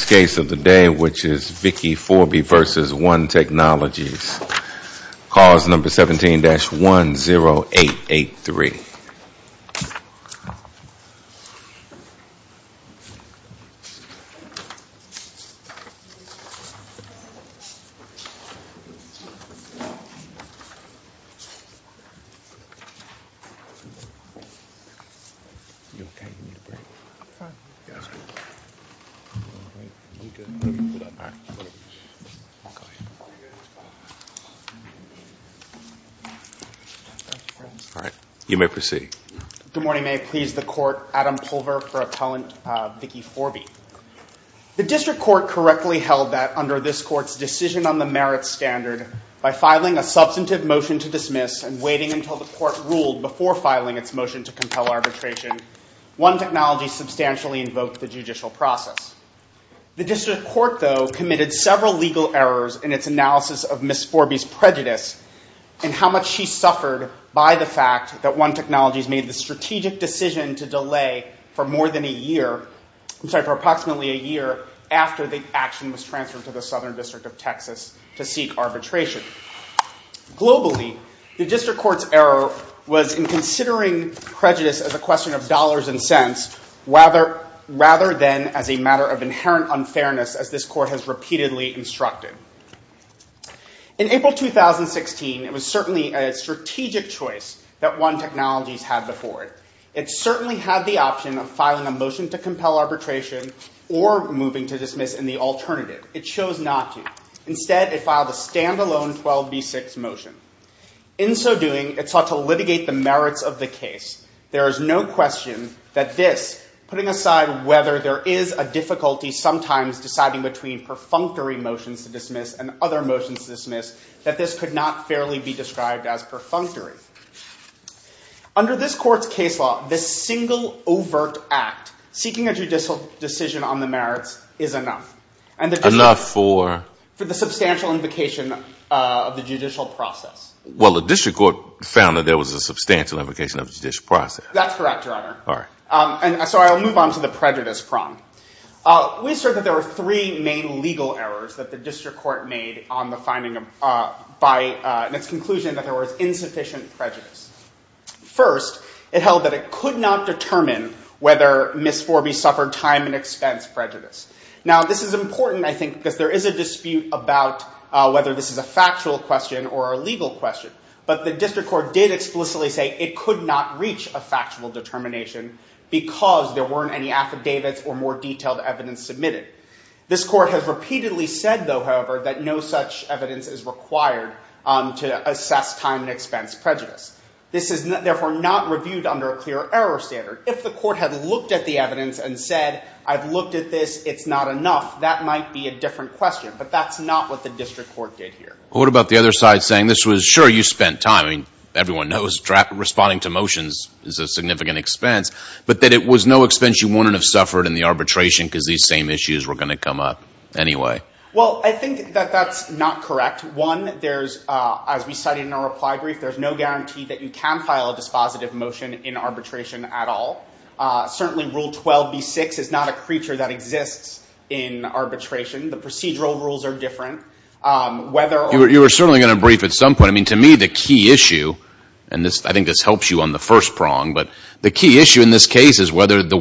Vickie Forby v. One Technologies, Clause 17-10883. Good morning. May it please the Court, Adam Pulver for Appellant Vickie Forby. The District Court correctly held that under this Court's decision on the merits standard, by filing a substantive motion to dismiss and waiting until the Court ruled before filing its motion to compel arbitration, One Technologies substantially invoked the judicial process. The District Court, though, committed several legal errors in its analysis of Ms. Forby's prejudice and how much she suffered by the fact that One Technologies made the strategic decision to delay for more than a year, I'm sorry, for approximately a year after the action was transferred to the Southern District of Texas to seek arbitration. Globally, the District Court's error was in considering prejudice as a question of dollars and cents rather than as a matter of inherent unfairness, as this Court has repeatedly instructed. In April 2016, it was certainly a strategic choice that One Technologies had before it. It certainly had the option of filing a motion to compel arbitration or moving to dismiss in the alternative. It chose not to. Instead, it filed a standalone 12B6 motion. In so doing, it sought to litigate the merits of the case. There is no question that this, putting aside whether there is a difficulty sometimes deciding between perfunctory motions to dismiss and other motions to dismiss, that this could not fairly be described as perfunctory. Under this Court's case law, this single overt act, seeking a judicial decision on the merits, is enough. Enough for? For the substantial invocation of the judicial process. Well, the District Court found that there was a substantial invocation of the judicial process. That's correct, Your Honor. All right. And so I'll move on to the prejudice prong. We assert that there were three main legal errors that the District Court made on the finding by its conclusion that there was insufficient prejudice. First, it held that it could not determine whether Ms. Forby suffered time and expense prejudice. Now, this is important, I think, because there is a dispute about whether this is a factual question or a legal question. But the District Court did explicitly say it could not reach a factual determination because there weren't any affidavits or more detailed evidence submitted. This Court has repeatedly said, though, however, that no such evidence is required to assess time and expense prejudice. This is, therefore, not reviewed under a clear error standard. If the Court had looked at the evidence and said, I've looked at this, it's not enough, that might be a different question. But that's not what the District Court did here. What about the other side saying, this was, sure, you spent time. I mean, everyone knows responding to motions is a significant expense. But that it was no expense you wouldn't have suffered in the arbitration because these same issues were going to come up anyway. Well, I think that that's not correct. One, there's, as we cited in our reply brief, there's no guarantee that you can file a dispositive motion in arbitration at all. Certainly, Rule 12b-6 is not a creature that exists in arbitration. The procedural rules are different. You were certainly going to brief at some point. I mean, to me, the key issue, and I think this helps you on the first prong, but the key issue in this case is whether the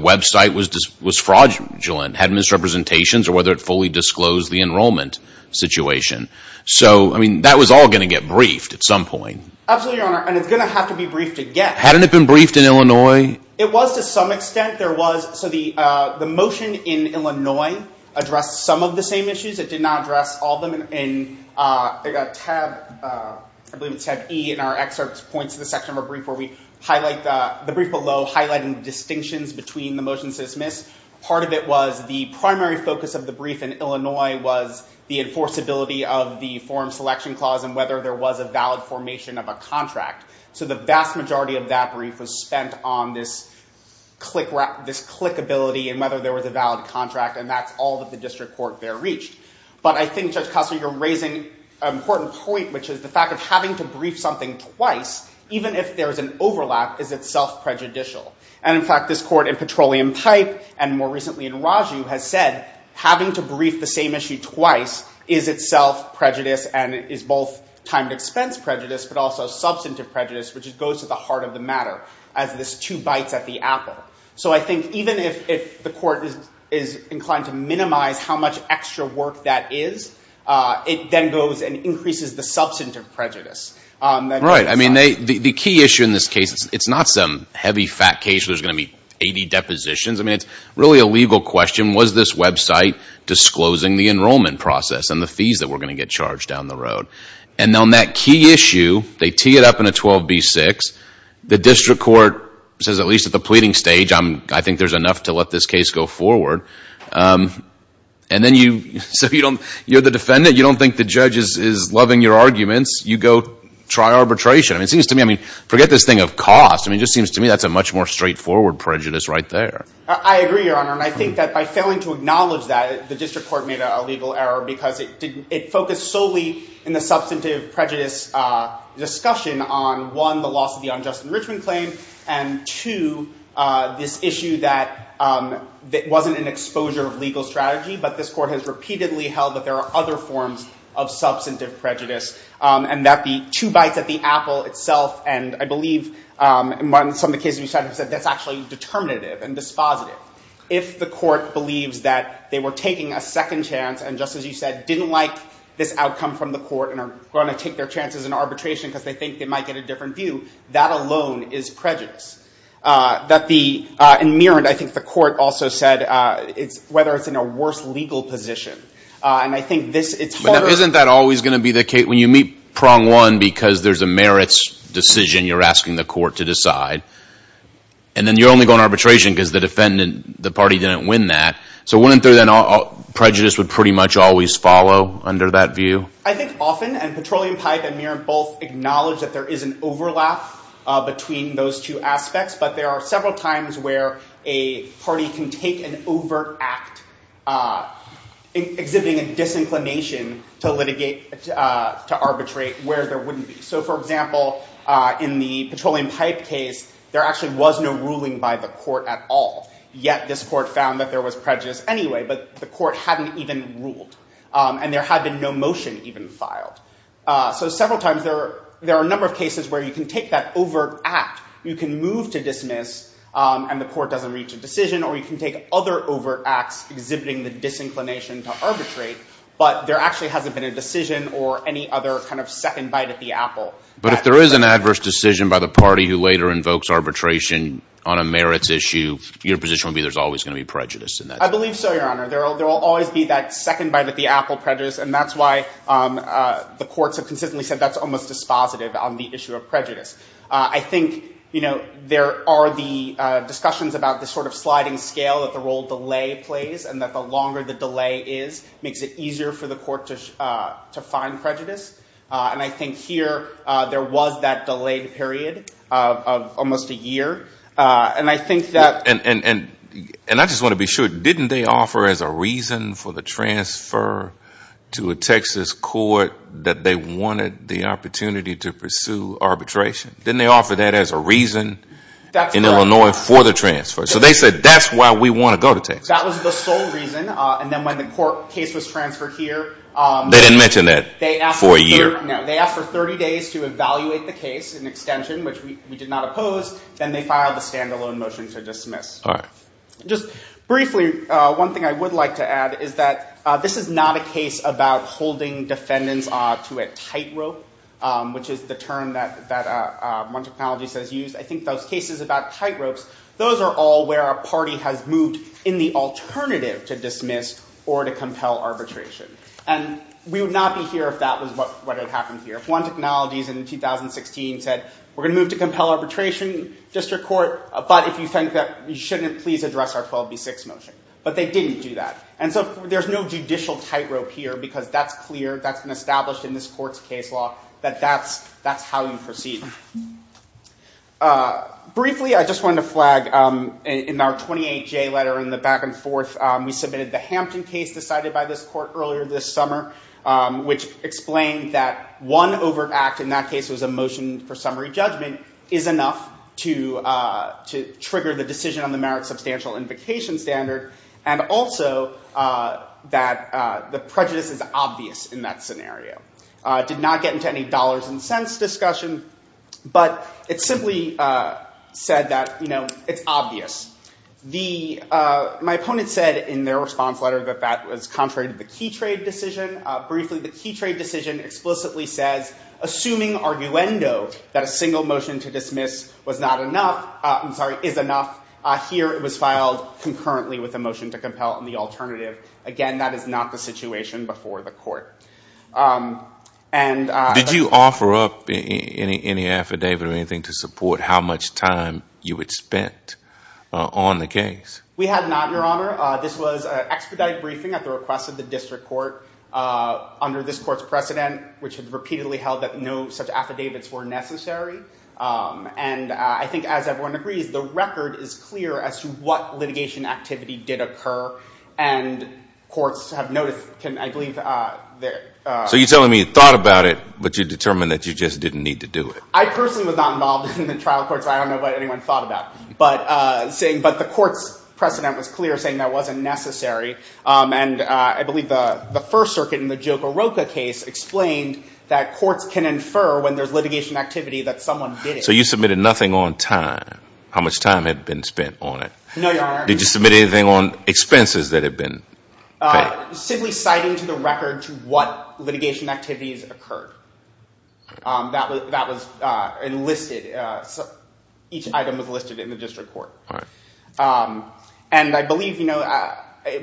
enrollment situation. So, I mean, that was all going to get briefed at some point. Absolutely, Your Honor. And it's going to have to be briefed again. Hadn't it been briefed in Illinois? It was to some extent. There was, so the motion in Illinois addressed some of the same issues. It did not address all of them. And I believe it's tab E in our excerpts points to the section of our brief where we highlight the brief below, highlighting the distinctions between the motions dismissed. Part of it was the primary focus of the brief in Illinois was the enforceability of the forum selection clause and whether there was a valid formation of a contract. So, the vast majority of that brief was spent on this clickability and whether there was a valid contract. And that's all that the district court there reached. But I think, Judge Costner, you're raising an important point, which is the fact of having to brief something twice, even if there's an overlap, is itself prejudicial. And in this court, in Petroleum Pipe, and more recently in Raju, has said, having to brief the same issue twice is itself prejudice and is both time to expense prejudice, but also substantive prejudice, which goes to the heart of the matter, as this two bites at the apple. So I think even if the court is inclined to minimize how much extra work that is, it then goes and increases the substantive prejudice. Right. I mean, the key issue in this case, it's not some heavy, fat case where there's going to be 80 depositions. I mean, it's really a legal question, was this website disclosing the enrollment process and the fees that were going to get charged down the road? And on that key issue, they tee it up in a 12B6. The district court says, at least at the pleading stage, I think there's enough to let this case go forward. And then you – so you're the defendant. You don't think the judge is loving your arguments. You go try arbitration. I mean, it seems to me – I mean, forget this thing of cost. I mean, it just seems to me that's a much more straightforward prejudice right there. I agree, Your Honor. And I think that by failing to acknowledge that, the district court made a legal error because it focused solely in the substantive prejudice discussion on, one, the loss of the unjust enrichment claim, and two, this issue that wasn't an exposure of legal strategy, but this court has repeatedly held that there are other forms of substantive actually determinative and dispositive. If the court believes that they were taking a second chance and, just as you said, didn't like this outcome from the court and are going to take their chances in arbitration because they think they might get a different view, that alone is prejudice. That the – and Myrand, I think the court also said it's – whether it's in a worse legal position. And I think this – it's harder – But isn't that always going to be the case? When you meet prong one because there's a merits decision you're asking the court to decide, and then you're only going arbitration because the defendant, the party, didn't win that. So wouldn't there then – prejudice would pretty much always follow under that view? I think often – and Petroleum Pipe and Myrand both acknowledge that there is an overlap between those two aspects, but there are several times where a party can take an overt act exhibiting a disinclination to litigate – to arbitrate where there wouldn't be. So, for example, in the Petroleum Pipe case, there actually was no ruling by the court at all, yet this court found that there was prejudice anyway, but the court hadn't even ruled. And there had been no motion even filed. So several times there are a number of cases where you can take that overt act, you can move to dismiss, and the court doesn't reach a decision, or you can take other overt acts exhibiting the disinclination to arbitrate, but there actually hasn't been a decision or any other kind of second bite at the apple. But if there is an adverse decision by the party who later invokes arbitration on a merits issue, your position would be there's always going to be prejudice in that case? I believe so, Your Honor. There will always be that second bite at the apple prejudice, and that's why the courts have consistently said that's almost dispositive on the issue of prejudice. I think, you know, there are the discussions about the sort of sliding scale that the role delay plays, and that the longer the delay is, it makes it easier for the court to find prejudice. And I think here there was that delayed period of almost a year, and I think that... And I just want to be sure, didn't they offer as a reason for the transfer to a Texas court that they wanted the opportunity to pursue arbitration? Didn't they offer that as a reason in Illinois for the transfer? So they said, that's why we want to go to Texas. That was the sole reason. And then when the court case was transferred here... They didn't mention that for a year. No. They asked for 30 days to evaluate the case in extension, which we did not oppose. Then they filed a standalone motion to dismiss. Just briefly, one thing I would like to add is that this is not a case about holding defendants to a tightrope, which is the term that one technologist has used. I think those cases about tightropes, those are all where a party has moved in the alternative to dismiss or to compel arbitration. And we would not be here if that was what had happened here. One technologist in 2016 said, we're going to move to compel arbitration district court, but if you think that we shouldn't, please address our 12B6 motion. But they didn't do that. And so there's no judicial tightrope here, because that's clear, that's been established in this court's case law, that that's how you proceed. Briefly, I just wanted to flag in our 28J letter, in the back and forth, we submitted the Hampton case decided by this court earlier this summer, which explained that one overt act, in that case it was a motion for summary judgment, is enough to trigger the decision on the merit substantial invocation standard, and also that the prejudice is obvious in that scenario. Did not get into any dollars and cents discussion, but it simply said that it's obvious. My opponent said in their response letter that that was contrary to the key trade decision. Briefly, the key trade decision explicitly says, assuming arguendo that a single motion to dismiss was not enough, I'm sorry, is enough, here it was filed concurrently with a motion to compel the alternative. Again, that is not the situation before the court. Did you offer up any affidavit or anything to support how much time you had spent on the case? We had not, your honor. This was an expedited briefing at the request of the district court, under this court's precedent, which had repeatedly held that no such affidavits were necessary. I think, as everyone agrees, the record is clear as to what litigation activity did occur, and courts have noticed, I believe... So you're telling me you thought about it, but you determined that you just didn't need to do it. I personally was not involved in the trial court, so I don't know what anyone thought about it. But the court's precedent was clear, saying that wasn't necessary, and I believe the First Circuit in the Joe Garroka case explained that courts can infer, when there's a case, that someone did it. So you submitted nothing on time, how much time had been spent on it? No, your honor. Did you submit anything on expenses that had been paid? Simply citing to the record what litigation activities occurred. That was enlisted, each item was listed in the district court. And I believe, you know,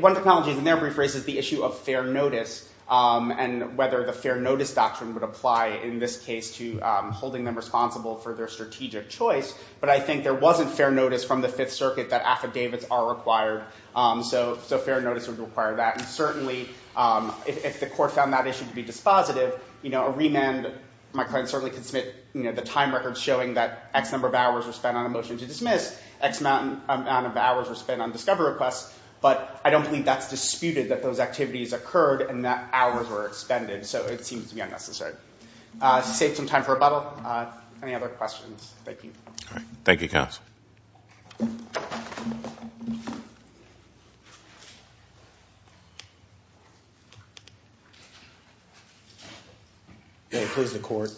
one technology in there rephrases the issue of fair notice, and whether the fair notice doctrine would apply in this case, I don't think the court is responsible for their strategic choice, but I think there wasn't fair notice from the Fifth Circuit that affidavits are required, so fair notice would require that. And certainly, if the court found that issue to be dispositive, you know, a remand, my client certainly could submit the time record showing that X number of hours were spent on a motion to dismiss, X amount of hours were spent on discovery requests, but I don't believe that's disputed, that those activities occurred, and that hours were expended, so it seems to be unnecessary. I saved some time for rebuttal. Any other questions? Thank you. Thank you, counsel. May it please the court,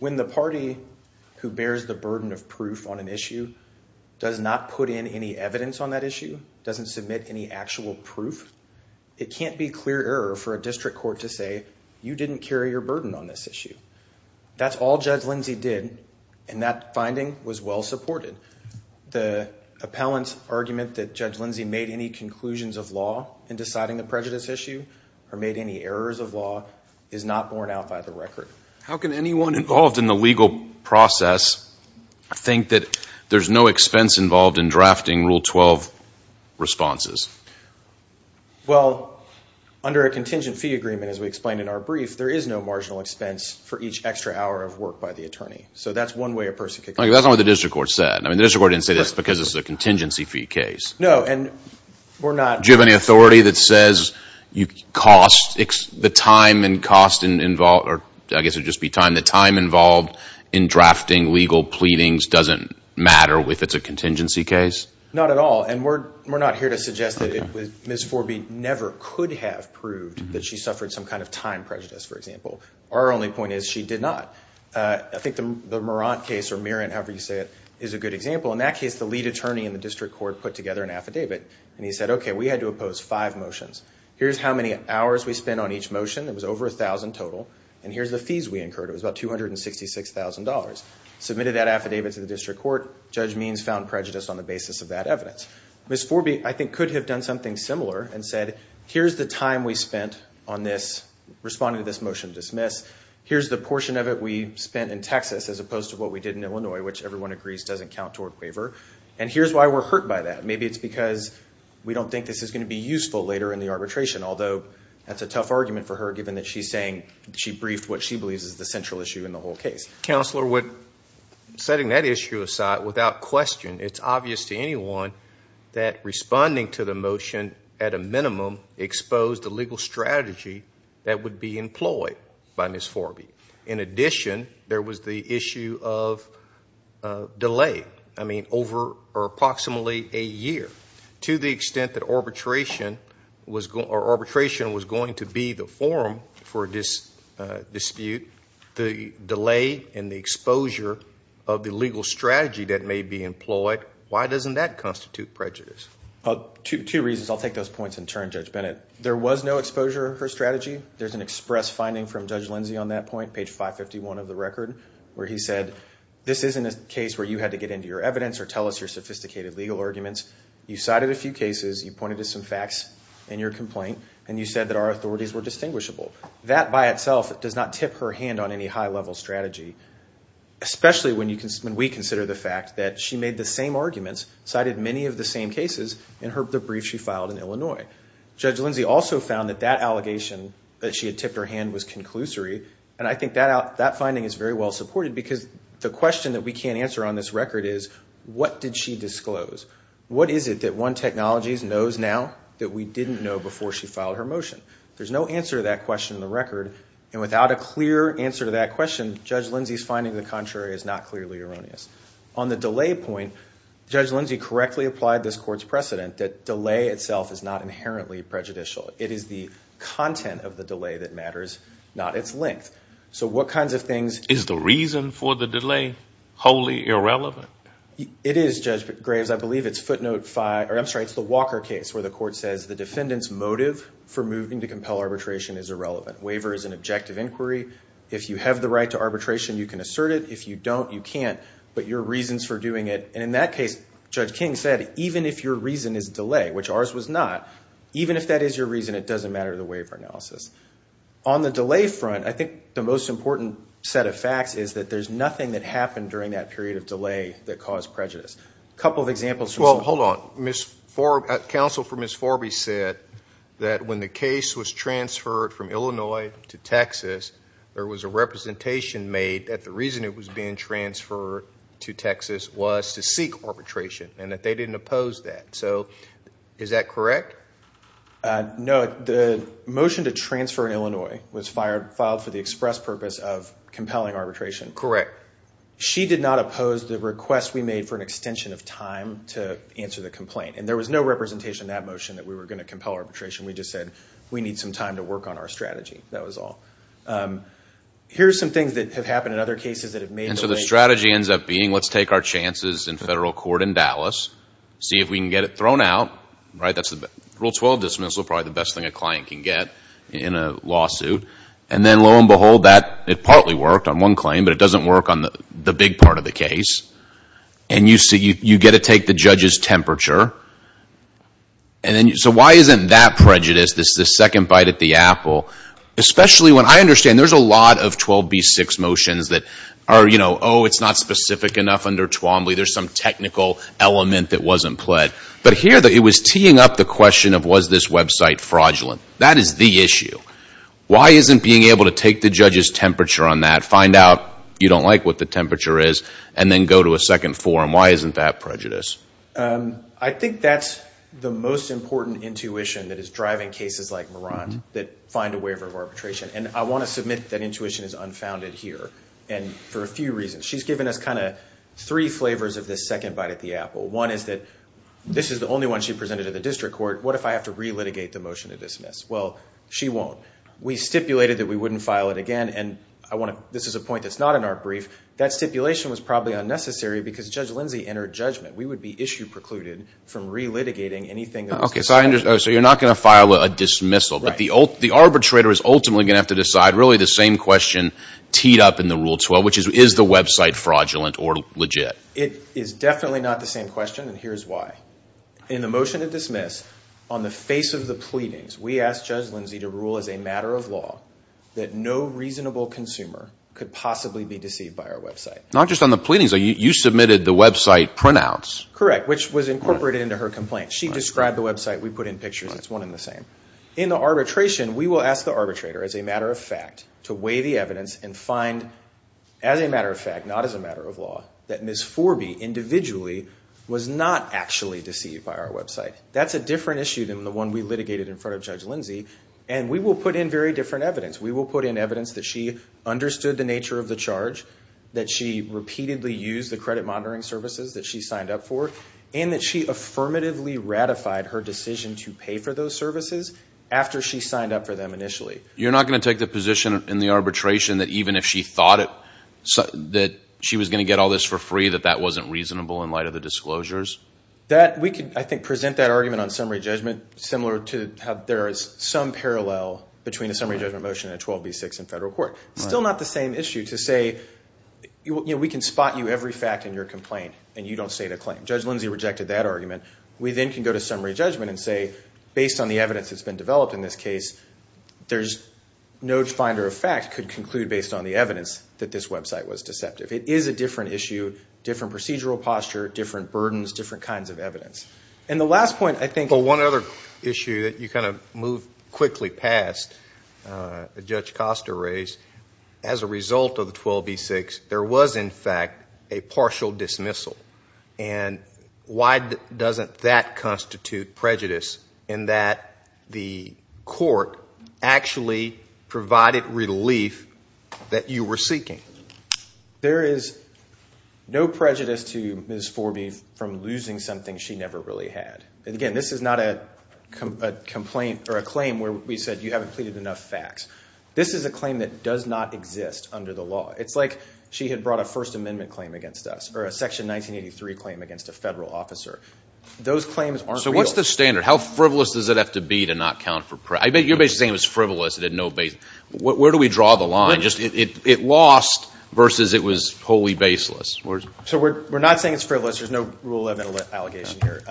when the party who bears the burden of proof on an issue does not put in any evidence on that issue, doesn't submit any actual proof, it can't be clear for a district court to say, you didn't carry your burden on this issue. That's all Judge Lindsay did, and that finding was well supported. The appellant's argument that Judge Lindsay made any conclusions of law in deciding the prejudice issue, or made any errors of law, is not borne out by the record. How can anyone involved in the legal process think that there's no expense involved in as we explained in our brief, there is no marginal expense for each extra hour of work by the attorney. So that's one way a person could... That's not what the district court said. I mean, the district court didn't say this because this is a contingency fee case. No, and we're not... Do you have any authority that says the time involved in drafting legal pleadings doesn't matter if it's a contingency case? Not at all, and we're not here to suggest that Ms. Forby never could have proved that she suffered some kind of time prejudice, for example. Our only point is, she did not. I think the Marant case, or Marant, however you say it, is a good example. In that case, the lead attorney in the district court put together an affidavit, and he said, okay, we had to oppose five motions. Here's how many hours we spent on each motion. It was over 1,000 total, and here's the fees we incurred. It was about $266,000. Submitted that affidavit to the district court. Judge Means found prejudice on the basis of that evidence. Ms. Forby, I think, could have done something similar and said, here's the time we spent on this, responding to this motion to dismiss. Here's the portion of it we spent in Texas as opposed to what we did in Illinois, which everyone agrees doesn't count toward waiver, and here's why we're hurt by that. Maybe it's because we don't think this is going to be useful later in the arbitration, although that's a tough argument for her given that she's saying she briefed what she believes is the central issue in the whole case. Counselor, setting that issue aside, without question, it's obvious to anyone that responding to the motion, at a minimum, exposed a legal strategy that would be employed by Ms. Forby. In addition, there was the issue of delay, I mean, over approximately a year. To the exposure of the legal strategy that may be employed, why doesn't that constitute prejudice? Two reasons. I'll take those points in turn, Judge Bennett. There was no exposure of her strategy. There's an express finding from Judge Lindsey on that point, page 551 of the record, where he said, this isn't a case where you had to get into your evidence or tell us your sophisticated legal arguments. You cited a few cases, you pointed to some facts in your complaint, and you said that our authorities were distinguishable. That, by itself, does not tip her hand on any high-level strategy, especially when we consider the fact that she made the same arguments, cited many of the same cases in the brief she filed in Illinois. Judge Lindsey also found that that allegation that she had tipped her hand was conclusory, and I think that finding is very well supported because the question that we can't answer on this record is, what did she disclose? What is it that One Technologies knows now that we didn't know before she filed her motion? There's no answer to that question in the record. Without a clear answer to that question, Judge Lindsey's finding of the contrary is not clearly erroneous. On the delay point, Judge Lindsey correctly applied this court's precedent that delay itself is not inherently prejudicial. It is the content of the delay that matters, not its length. So what kinds of things... Is the reason for the delay wholly irrelevant? It is, Judge Graves. I believe it's footnote five, or I'm sorry, it's the Walker case, where the court says the defendant's motive for moving to compel arbitration is irrelevant. Waiver is an objective inquiry. If you have the right to arbitration, you can assert it. If you don't, you can't. But your reasons for doing it, and in that case, Judge King said, even if your reason is delay, which ours was not, even if that is your reason, it doesn't matter to the waiver analysis. On the delay front, I think the most important set of facts is that there's nothing that happened during that period of delay that caused prejudice. A couple of examples... Well, hold on. Counsel for Ms. Forby said that when the case was transferred from Illinois to Texas, there was a representation made that the reason it was being transferred to Texas was to seek arbitration, and that they didn't oppose that. So is that correct? No. The motion to transfer in Illinois was filed for the express purpose of compelling arbitration. Correct. She did not oppose the request we made for an extension of time to answer the complaint, and there was no representation in that motion that we were going to compel arbitration. We just said, we need some time to work on our strategy. That was all. Here's some things that have happened in other cases that have made... And so the strategy ends up being, let's take our chances in federal court in Dallas, see if we can get it thrown out. Rule 12 dismissal is probably the best thing a client can get in a lawsuit. And then, lo and behold, that partly worked on one claim, but it doesn't work on the big part of the case. And you get to take the judge's temperature. So why isn't that prejudice, this second bite at the apple, especially when I understand there's a lot of 12b-6 motions that are, you know, oh, it's not specific enough under Twombly, there's some technical element that wasn't pled. But here, it was teeing up the question of was this website fraudulent. That is the issue. Why isn't being able to take the judge's temperature on that, find out you don't like what the temperature is, and then go to a second forum? Why isn't that prejudice? I think that's the most important intuition that is driving cases like Marant that find a waiver of arbitration. And I want to submit that intuition is unfounded here. And for a few reasons. She's given us kind of three flavors of this second bite at the apple. One is that this is the only one she presented to the district court. What if I have to re-litigate the motion to dismiss? Well, she won't. We stipulated that we wouldn't file it again. And I want to, this is a point that's not in our brief, that stipulation was probably unnecessary because Judge Lindsay entered judgment. We would be issue precluded from re-litigating anything that was decided. Okay, so you're not going to file a dismissal. But the arbitrator is ultimately going to have to decide really the same question teed up in the Rule 12, which is, is the website fraudulent or legit? It is definitely not the same question, and here's why. In the motion to dismiss, on the face of the pleadings, we asked Judge Lindsay to rule as a matter of law that no reasonable consumer could possibly be deceived by our website. Not just on the pleadings. You submitted the website printouts. Correct, which was incorporated into her complaint. She described the website. We put in pictures. It's one and the same. In the arbitration, we will ask the arbitrator, as a matter of fact, to weigh the evidence and find, as a matter of fact, not as a matter of law, that Ms. Forby, individually, was not actually deceived by our website. That's a different issue than the one we litigated in front of Judge Lindsay, and we will put in very different evidence. We will put in evidence that she understood the nature of the charge, that she repeatedly used the credit monitoring services that she signed up for, and that she affirmatively ratified her decision to pay for those services after she signed up for them initially. You're not going to take the position in the arbitration that even if she thought that she was going to get all this for free, that that wasn't reasonable in light of the disclosures? That, we could, I think, present that argument on summary judgment similar to how there is some parallel between a summary judgment motion and a 12B6 in federal court. It's still not the same issue to say, you know, we can spot you every fact in your complaint, and you don't state a claim. Judge Lindsay rejected that argument. We then can go to summary judgment and say, based on the evidence that's been developed in this case, there's no finder of fact could conclude based on the evidence that this website was deceptive. It is a different issue, different procedural posture, different burdens, different kinds of evidence. And the last point, I think... I'm going to move quickly past Judge Costa raised. As a result of the 12B6, there was, in fact, a partial dismissal. And why doesn't that constitute prejudice in that the court actually provided relief that you were seeking? There is no prejudice to Ms. Forby from losing something she never really had. Again, this is not a complaint or a claim where we said you haven't pleaded enough facts. This is a claim that does not exist under the law. It's like she had brought a First Amendment claim against us, or a Section 1983 claim against a federal officer. Those claims aren't real. So what's the standard? How frivolous does it have to be to not count for prejudice? You're basically saying it was frivolous. Where do we draw the line? It lost versus it was wholly baseless. We're not saying it's frivolous. There's no rule of allegation here.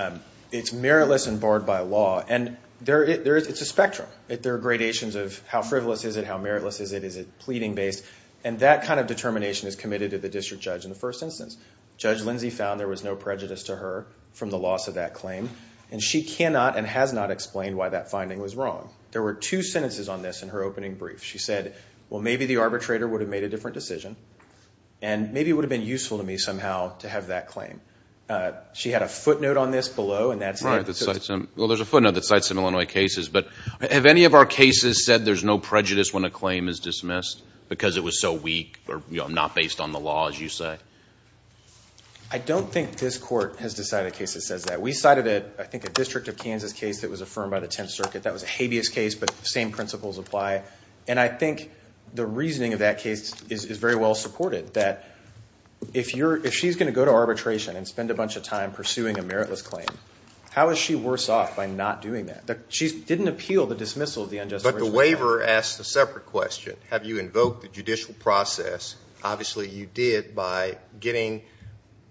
It's meritless and barred by law. And it's a spectrum. There are gradations of how frivolous is it, how meritless is it, is it pleading-based? And that kind of determination is committed to the district judge in the first instance. Judge Lindsay found there was no prejudice to her from the loss of that claim. And she cannot and has not explained why that finding was wrong. There were two sentences on this in her opening brief. She said, well, maybe the arbitrator would have made a different decision. And maybe it would have been useful to me somehow to have that claim. She had a footnote on this below. Right. Well, there's a footnote that cites some Illinois cases. But have any of our cases said there's no prejudice when a claim is dismissed because it was so weak or not based on the law, as you say? I don't think this court has decided a case that says that. We cited, I think, a District of Kansas case that was affirmed by the Tenth Circuit. That was a habeas case, but the same principles apply. And I think the reasoning of that case is very well supported, that if she's going to go to arbitration and spend a bunch of time pursuing a meritless claim, how is she worse off by not doing that? She didn't appeal the dismissal of the unjustified charge. But the waiver asks a separate question. Have you invoked the judicial process? Obviously, you did by getting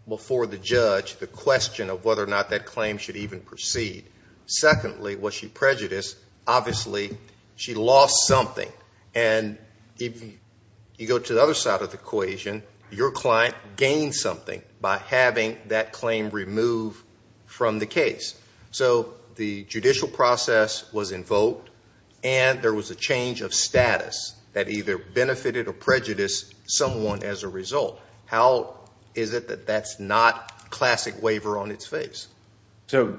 before the judge the question of whether or not that claim was removed and proceed. Secondly, was she prejudiced? Obviously, she lost something. And if you go to the other side of the equation, your client gained something by having that claim removed from the case. So the judicial process was invoked, and there was a change of status that either benefited or prejudiced someone as a result. How is it that that's not a classic waiver on its face? So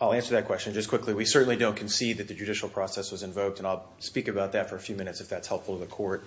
I'll answer that question just quickly. We certainly don't concede that the judicial process was invoked, and I'll speak about that for a few minutes if that's helpful to the court.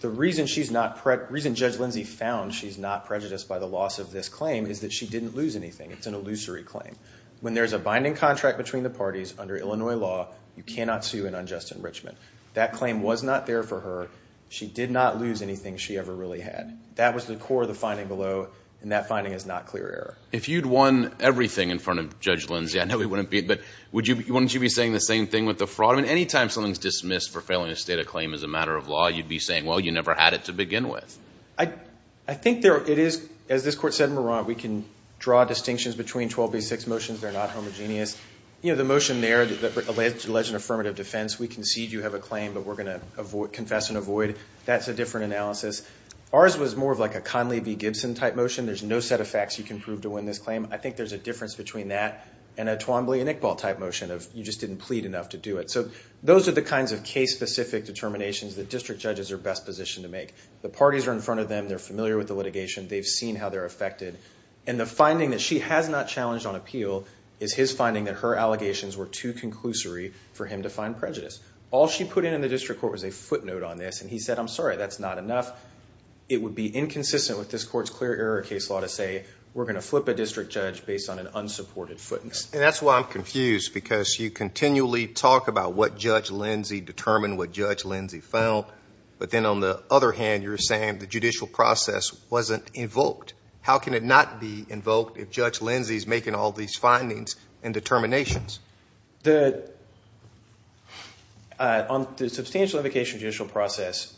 The reason Judge Lindsey found she's not prejudiced by the loss of this claim is that she didn't lose anything. It's an illusory claim. When there's a binding contract between the parties under Illinois law, you cannot sue an unjust enrichment. That claim was not there for her. She did not lose anything she ever really had. That was the core of the finding below, and that finding is not clear error. If you'd won everything in front of Judge Lindsey, I know it wouldn't be, but wouldn't you be saying the same thing with the fraud? I mean, any time something's dismissed for failing to state a claim as a matter of law, you'd be saying, well, you never had it to begin with. I think it is, as this Court said in Morant, we can draw distinctions between 12B6 motions. They're not homogeneous. You know, the motion there that alleged an affirmative defense, we concede you have a claim, but we're going to confess and avoid. That's a different analysis. Ours was more of like a Conley v. Gibson type motion. There's no set of facts you can prove to win this claim. I think there's a difference between that and a Twombly and Iqbal type motion of you just didn't plead enough to do it. So those are the kinds of case-specific determinations that district judges are best positioned to make. The parties are in front of them. They're familiar with the litigation. They've seen how they're affected, and the finding that she has not challenged on appeal is his finding that her allegations were too conclusory for him to find prejudice. All she put in in the district court was a footnote on this, and he said, I'm sorry, that's not enough. It would be inconsistent with this court's clear error case law to say we're going to flip a district judge based on an unsupported footnote. And that's why I'm confused, because you continually talk about what Judge Lindsay determined, what Judge Lindsay found, but then on the other hand, you're saying the judicial process wasn't invoked. How can it not be invoked if Judge Lindsay is making all these findings and determinations? On the substantial invocation of the judicial process,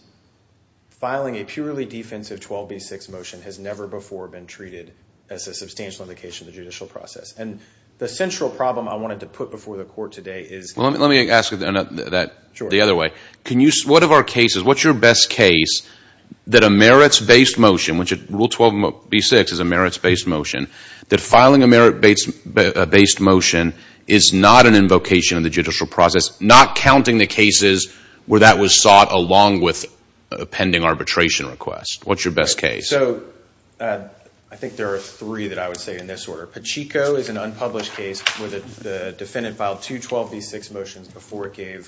filing a purely defensive 12B6 motion has never before been treated as a substantial invocation of the judicial process. And the central problem I wanted to put before the court today is... Well, let me ask that the other way. What's your best case that a merits-based motion, which Rule 12B6 is a merits-based motion, that filing a merits-based motion is not an invocation of the judicial process, not counting the cases where that was sought along with a pending arbitration request? What's your best case? So I think there are three that I would say in this order. Pacheco is an unpublished case where the defendant filed two 12B6 motions before it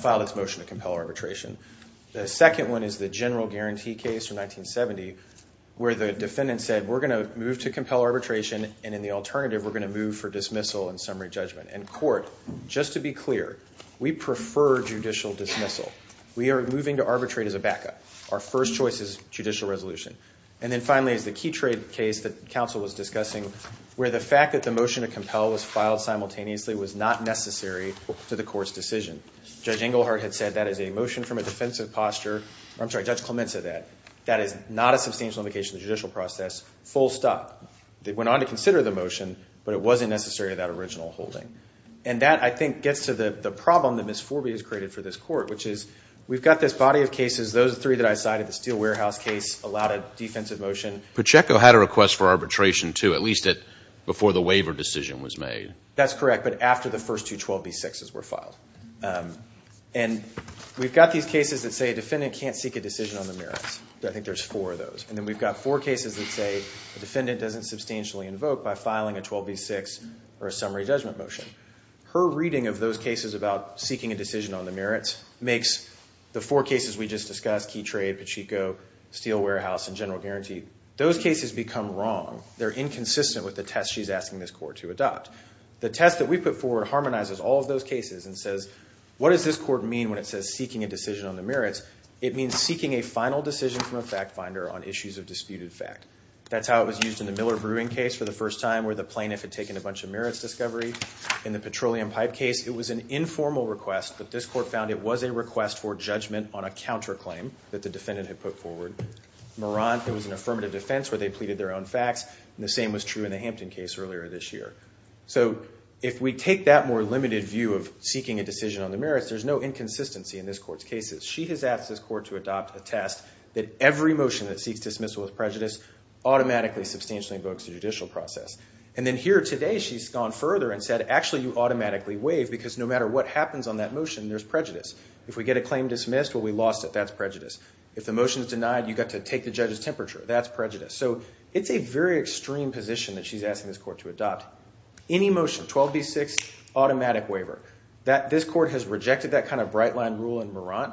filed its motion to compel arbitration. The second one is the general guarantee case from 1970 where the defendant said, we're going to move to compel arbitration, and in the case, we're going to move to arbitration for dismissal and summary judgment. And court, just to be clear, we prefer judicial dismissal. We are moving to arbitrate as a backup. Our first choice is judicial resolution. And then finally is the key trade case that counsel was discussing where the fact that the motion to compel was filed simultaneously was not necessary to the court's decision. Judge Engelhardt had said that is a motion from a defensive posture. I'm sorry, Judge Clement said that. That is not a substantial invocation of the judicial process, full stop. They went on to consider the motion, but it wasn't necessary to that original holding. And that, I think, gets to the problem that Miss Forby has created for this court, which is we've got this body of cases, those three that I cited, the steel warehouse case, a lot of defensive motion. Pacheco had a request for arbitration, too, at least before the waiver decision was made. That's correct, but after the first two 12B6s were filed. And we've got these cases that say a defendant can't seek a decision on the merits. I think there's four of those. And then we've got four cases that say a defendant doesn't substantially invoke by filing a 12B6 or a summary judgment motion. Her reading of those cases about seeking a decision on the merits makes the four cases we just discussed, key trade, Pacheco, steel warehouse, and general guarantee, those cases become wrong. They're inconsistent with the test she's asking this court to adopt. The test that we put forward harmonizes all of those cases and says, what does this court mean when it says seeking a decision on the disputed fact? That's how it was used in the Miller brewing case for the first time, where the plaintiff had taken a bunch of merits discovery. In the petroleum pipe case, it was an informal request, but this court found it was a request for judgment on a counterclaim that the defendant had put forward. Morant, it was an affirmative defense where they pleaded their own facts, and the same was true in the Hampton case earlier this year. So if we take that more limited view of seeking a decision on the merits, there's no inconsistency in this court's cases. She has asked this court to adopt a test that every motion that seeks dismissal with prejudice automatically substantially invokes the judicial process. And then here today, she's gone further and said, actually, you automatically waive because no matter what happens on that motion, there's prejudice. If we get a claim dismissed, well, we lost it. That's prejudice. If the motion is denied, you've got to take the judge's temperature. That's prejudice. So it's a very extreme position that she's asking this court to adopt. Any motion, 12B6, automatic waiver. This court has rejected that kind of right-line rule in Morant.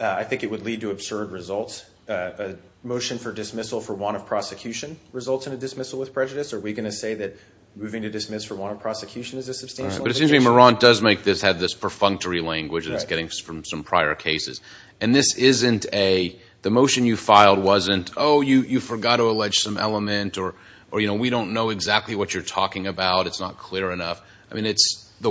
I think it would lead to absurd results. A motion for dismissal for want of prosecution results in a dismissal with prejudice. Are we going to say that moving to dismiss for want of prosecution is a substantial indication? But it seems to me Morant does make this, have this perfunctory language that it's getting from some prior cases. And this isn't a, the motion you filed wasn't, oh, you forgot to allege some element or, you know, we don't know exactly what you're talking about. It's not clear enough. I mean, it's, the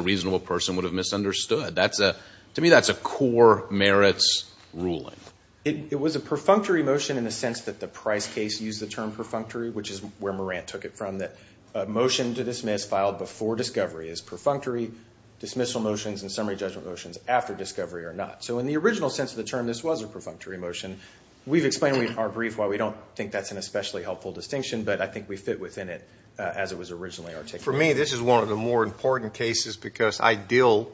reasonable person would have misunderstood. That's a, to me, that's a core merits ruling. It was a perfunctory motion in the sense that the Price case used the term perfunctory, which is where Morant took it from, that a motion to dismiss filed before discovery is perfunctory. Dismissal motions and summary judgment motions after discovery are not. So in the original sense of the term, this was a perfunctory motion. We've explained in our brief why we don't think that's an especially helpful distinction, but I think we fit within it as it was originally articulated. For me, this is one of the more important cases because I deal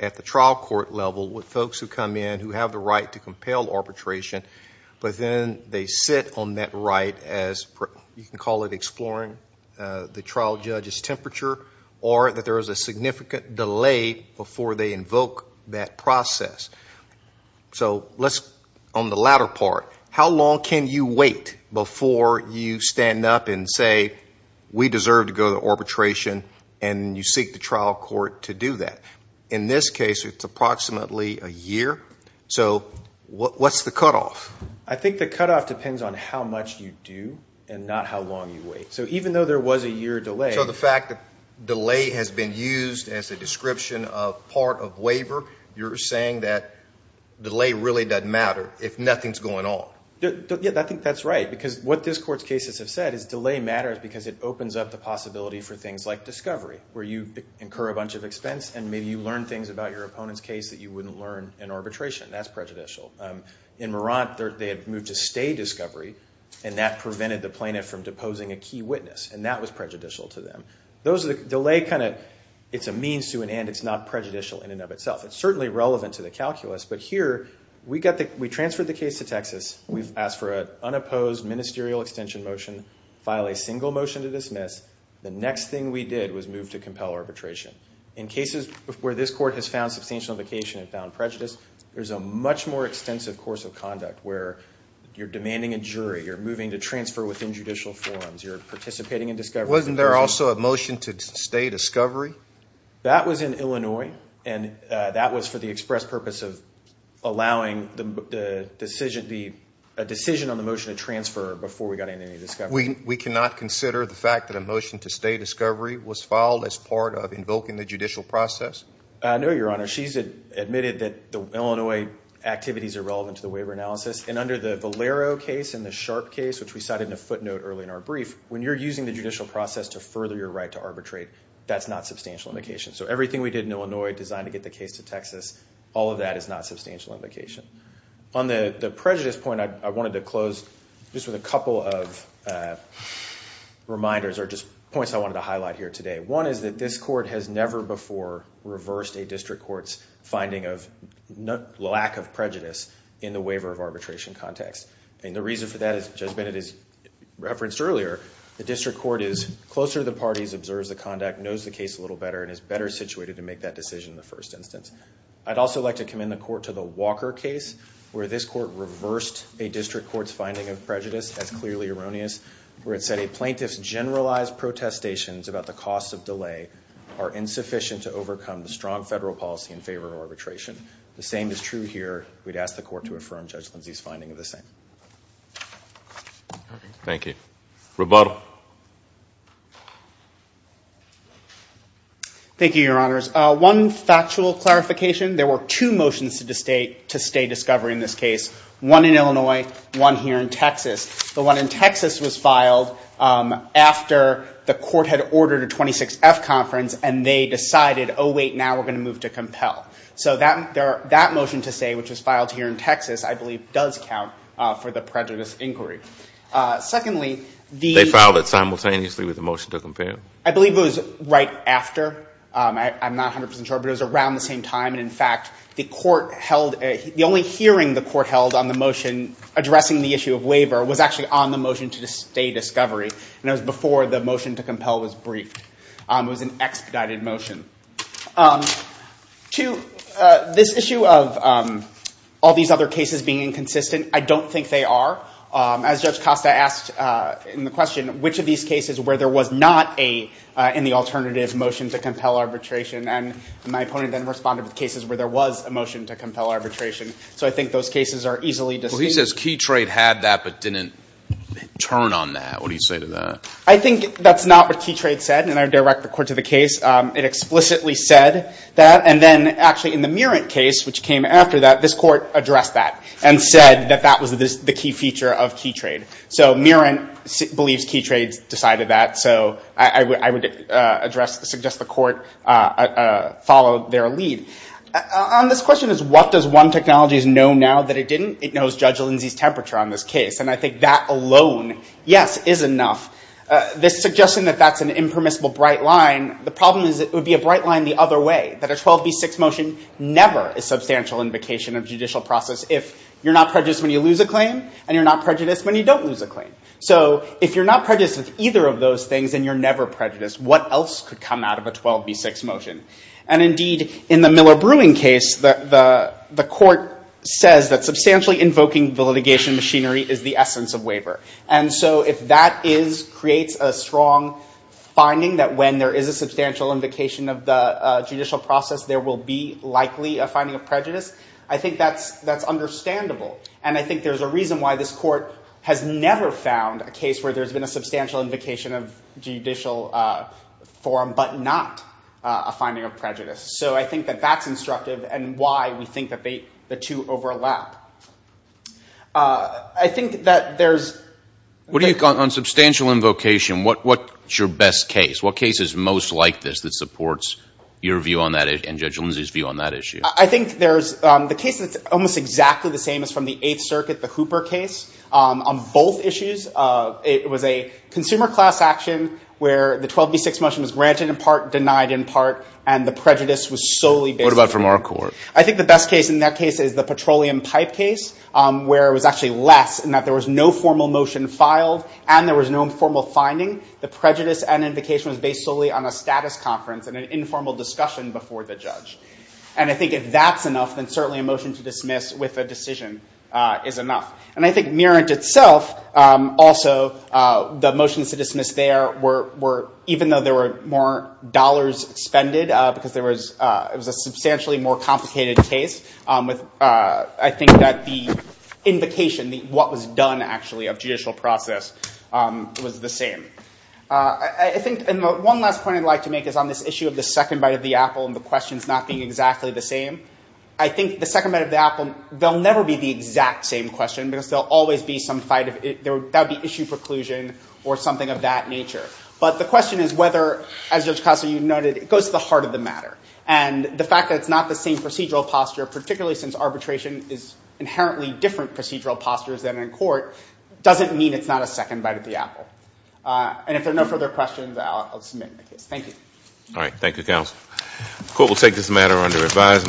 at the trial court level with folks who come in who have the right to compel arbitration, but then they sit on that right as, you can call it exploring the trial judge's temperature, or that there is a significant delay before they invoke that process. So let's, on the latter part, how long can you wait before you stand up and say, we deserve to go to arbitration, and you seek the trial court to do that? In this case, it's approximately a year. So what's the cutoff? I think the cutoff depends on how much you do and not how long you wait. So even though there was a year delay. So the fact that delay has been used as a description of part of waiver, you're saying that delay really doesn't matter if nothing's going on. Yeah, I think that's right, because what this court's cases have said is delay matters because it opens up the possibility for things like discovery, where you incur a bunch of expense and maybe you learn things about your opponent's case that you wouldn't learn in arbitration. That's prejudicial. In Marant, they had moved to stay discovery, and that prevented the plaintiff from deposing a key witness, and that was prejudicial to them. Delay kind of, it's a means to an end. It's not prejudicial in and of itself. It's certainly relevant to the calculus, but here, we transferred the case to move, ask for an unopposed ministerial extension motion, file a single motion to dismiss. The next thing we did was move to compel arbitration. In cases where this court has found substantial indication and found prejudice, there's a much more extensive course of conduct where you're demanding a jury, you're moving to transfer within judicial forums, you're participating in discovery. Wasn't there also a motion to stay discovery? That was in Illinois, and that was for the express purpose of allowing a decision on the motion to transfer before we got into any discovery. We cannot consider the fact that a motion to stay discovery was filed as part of invoking the judicial process? No, Your Honor. She's admitted that the Illinois activities are relevant to the waiver analysis, and under the Valero case and the Sharp case, which we cited in a footnote early in our brief, when you're using the judicial process to further your right to arbitrate, that's not substantial indication. So everything we did in Illinois designed to get the case to Texas, all of that is not substantial indication. On the prejudice point, I wanted to close just with a couple of reminders or just points I wanted to highlight here today. One is that this court has never before reversed a district court's finding of lack of prejudice in the waiver of arbitration context. And the reason for that, as Judge Bennett has referenced earlier, the district court is closer to the parties, observes the conduct, knows the case a little better, and is better situated to make that decision in the first instance. I'd also like to commend the court to the Walker case, where this court reversed a district court's finding of prejudice as clearly erroneous, where it said a plaintiff's generalized protestations about the cost of delay are insufficient to overcome the strong federal policy in favor of arbitration. The same is true here. We'd ask the court to affirm Judge Lindsay's finding of the same. Thank you. Rebuttal. Thank you, Your Honors. One factual clarification, there were two motions to stay discovery in this case, one in Illinois, one here in Texas. The one in Texas was filed after the court had ordered a 26-F conference and they decided, oh, wait, now we're going to move to compel. So that motion to stay, which was filed here in Texas, I believe does count for the prejudice inquiry. They filed it simultaneously with the motion to compel. I believe it was right after. I'm not 100% sure, but it was around the same time. In fact, the only hearing the court held on the motion addressing the issue of waiver was actually on the motion to stay discovery, and it was before the motion to compel was briefed. It was an expedited motion. This issue of all these other cases being inconsistent, I don't think they are. As Judge Costa asked in the question, which of these cases where there was not a in the alternative motion to compel arbitration, and my opponent then responded with cases where there was a motion to compel arbitration. So I think those cases are easily distinct. Well, he says Key Trade had that but didn't turn on that. What do you say to that? I think that's not what Key Trade said, and I direct the court to the case. It explicitly said that, and then actually in the Murant case, which came after that, this court addressed that and said that that was the key feature of Key Trade. So Murant believes Key Trade decided that, so I would suggest the court follow their lead. On this question of what does one technology know now that it didn't, it knows Judge Lindsay's temperature on this case, and I think that alone, yes, is enough. This suggestion that that's an impermissible bright line, the problem is it would be a bright line the other way, that a 12b6 motion never is substantial invocation of judicial process if you're not prejudiced when you lose a claim and you're not prejudiced when you don't lose a claim. So if you're not prejudiced with either of those things and you're never prejudiced, what else could come out of a 12b6 motion? And indeed, in the Miller-Brewing case, the court says that substantially invoking the litigation machinery is the essence of waiver. And so if that creates a strong finding that when there is a substantial invocation of the judicial process there will be likely a finding of prejudice, I think that's understandable. And I think there's a reason why this court has never found a case where there's been a substantial invocation of judicial forum but not a finding of prejudice. So I think that that's instructive and why we think that the two overlap. I think that there's – What do you – on substantial invocation, what's your best case? What case is most like this that supports your view on that and Judge Lindsey's view on that issue? I think there's the case that's almost exactly the same as from the Eighth Circuit, the Hooper case. On both issues, it was a consumer class action where the 12b6 motion was granted in part, denied in part, and the prejudice was solely based on – What about from our court? I think the best case in that case is the petroleum pipe case where it was actually less in that there was no formal motion filed and there was no formal finding. The prejudice and invocation was based solely on a status conference and an informal discussion before the judge. And I think if that's enough, then certainly a motion to dismiss with a decision is enough. And I think Merrant itself, also, the motions to dismiss there were – even though there were more dollars expended because there was – it was a substantially more complicated case with – Invocation, what was done, actually, of judicial process was the same. I think – and one last point I'd like to make is on this issue of the second bite of the apple and the questions not being exactly the same. I think the second bite of the apple, they'll never be the exact same question because there'll always be some fight of – that would be issue preclusion or something of that nature. But the question is whether, as Judge Costa, you noted, it goes to the heart of the matter. And the fact that it's not the same procedural posture, particularly since arbitration is inherently different procedural postures than in court, doesn't mean it's not a second bite of the apple. And if there are no further questions, I'll submit my case. Thank you. All right. Thank you, counsel. The court will take this matter under revised.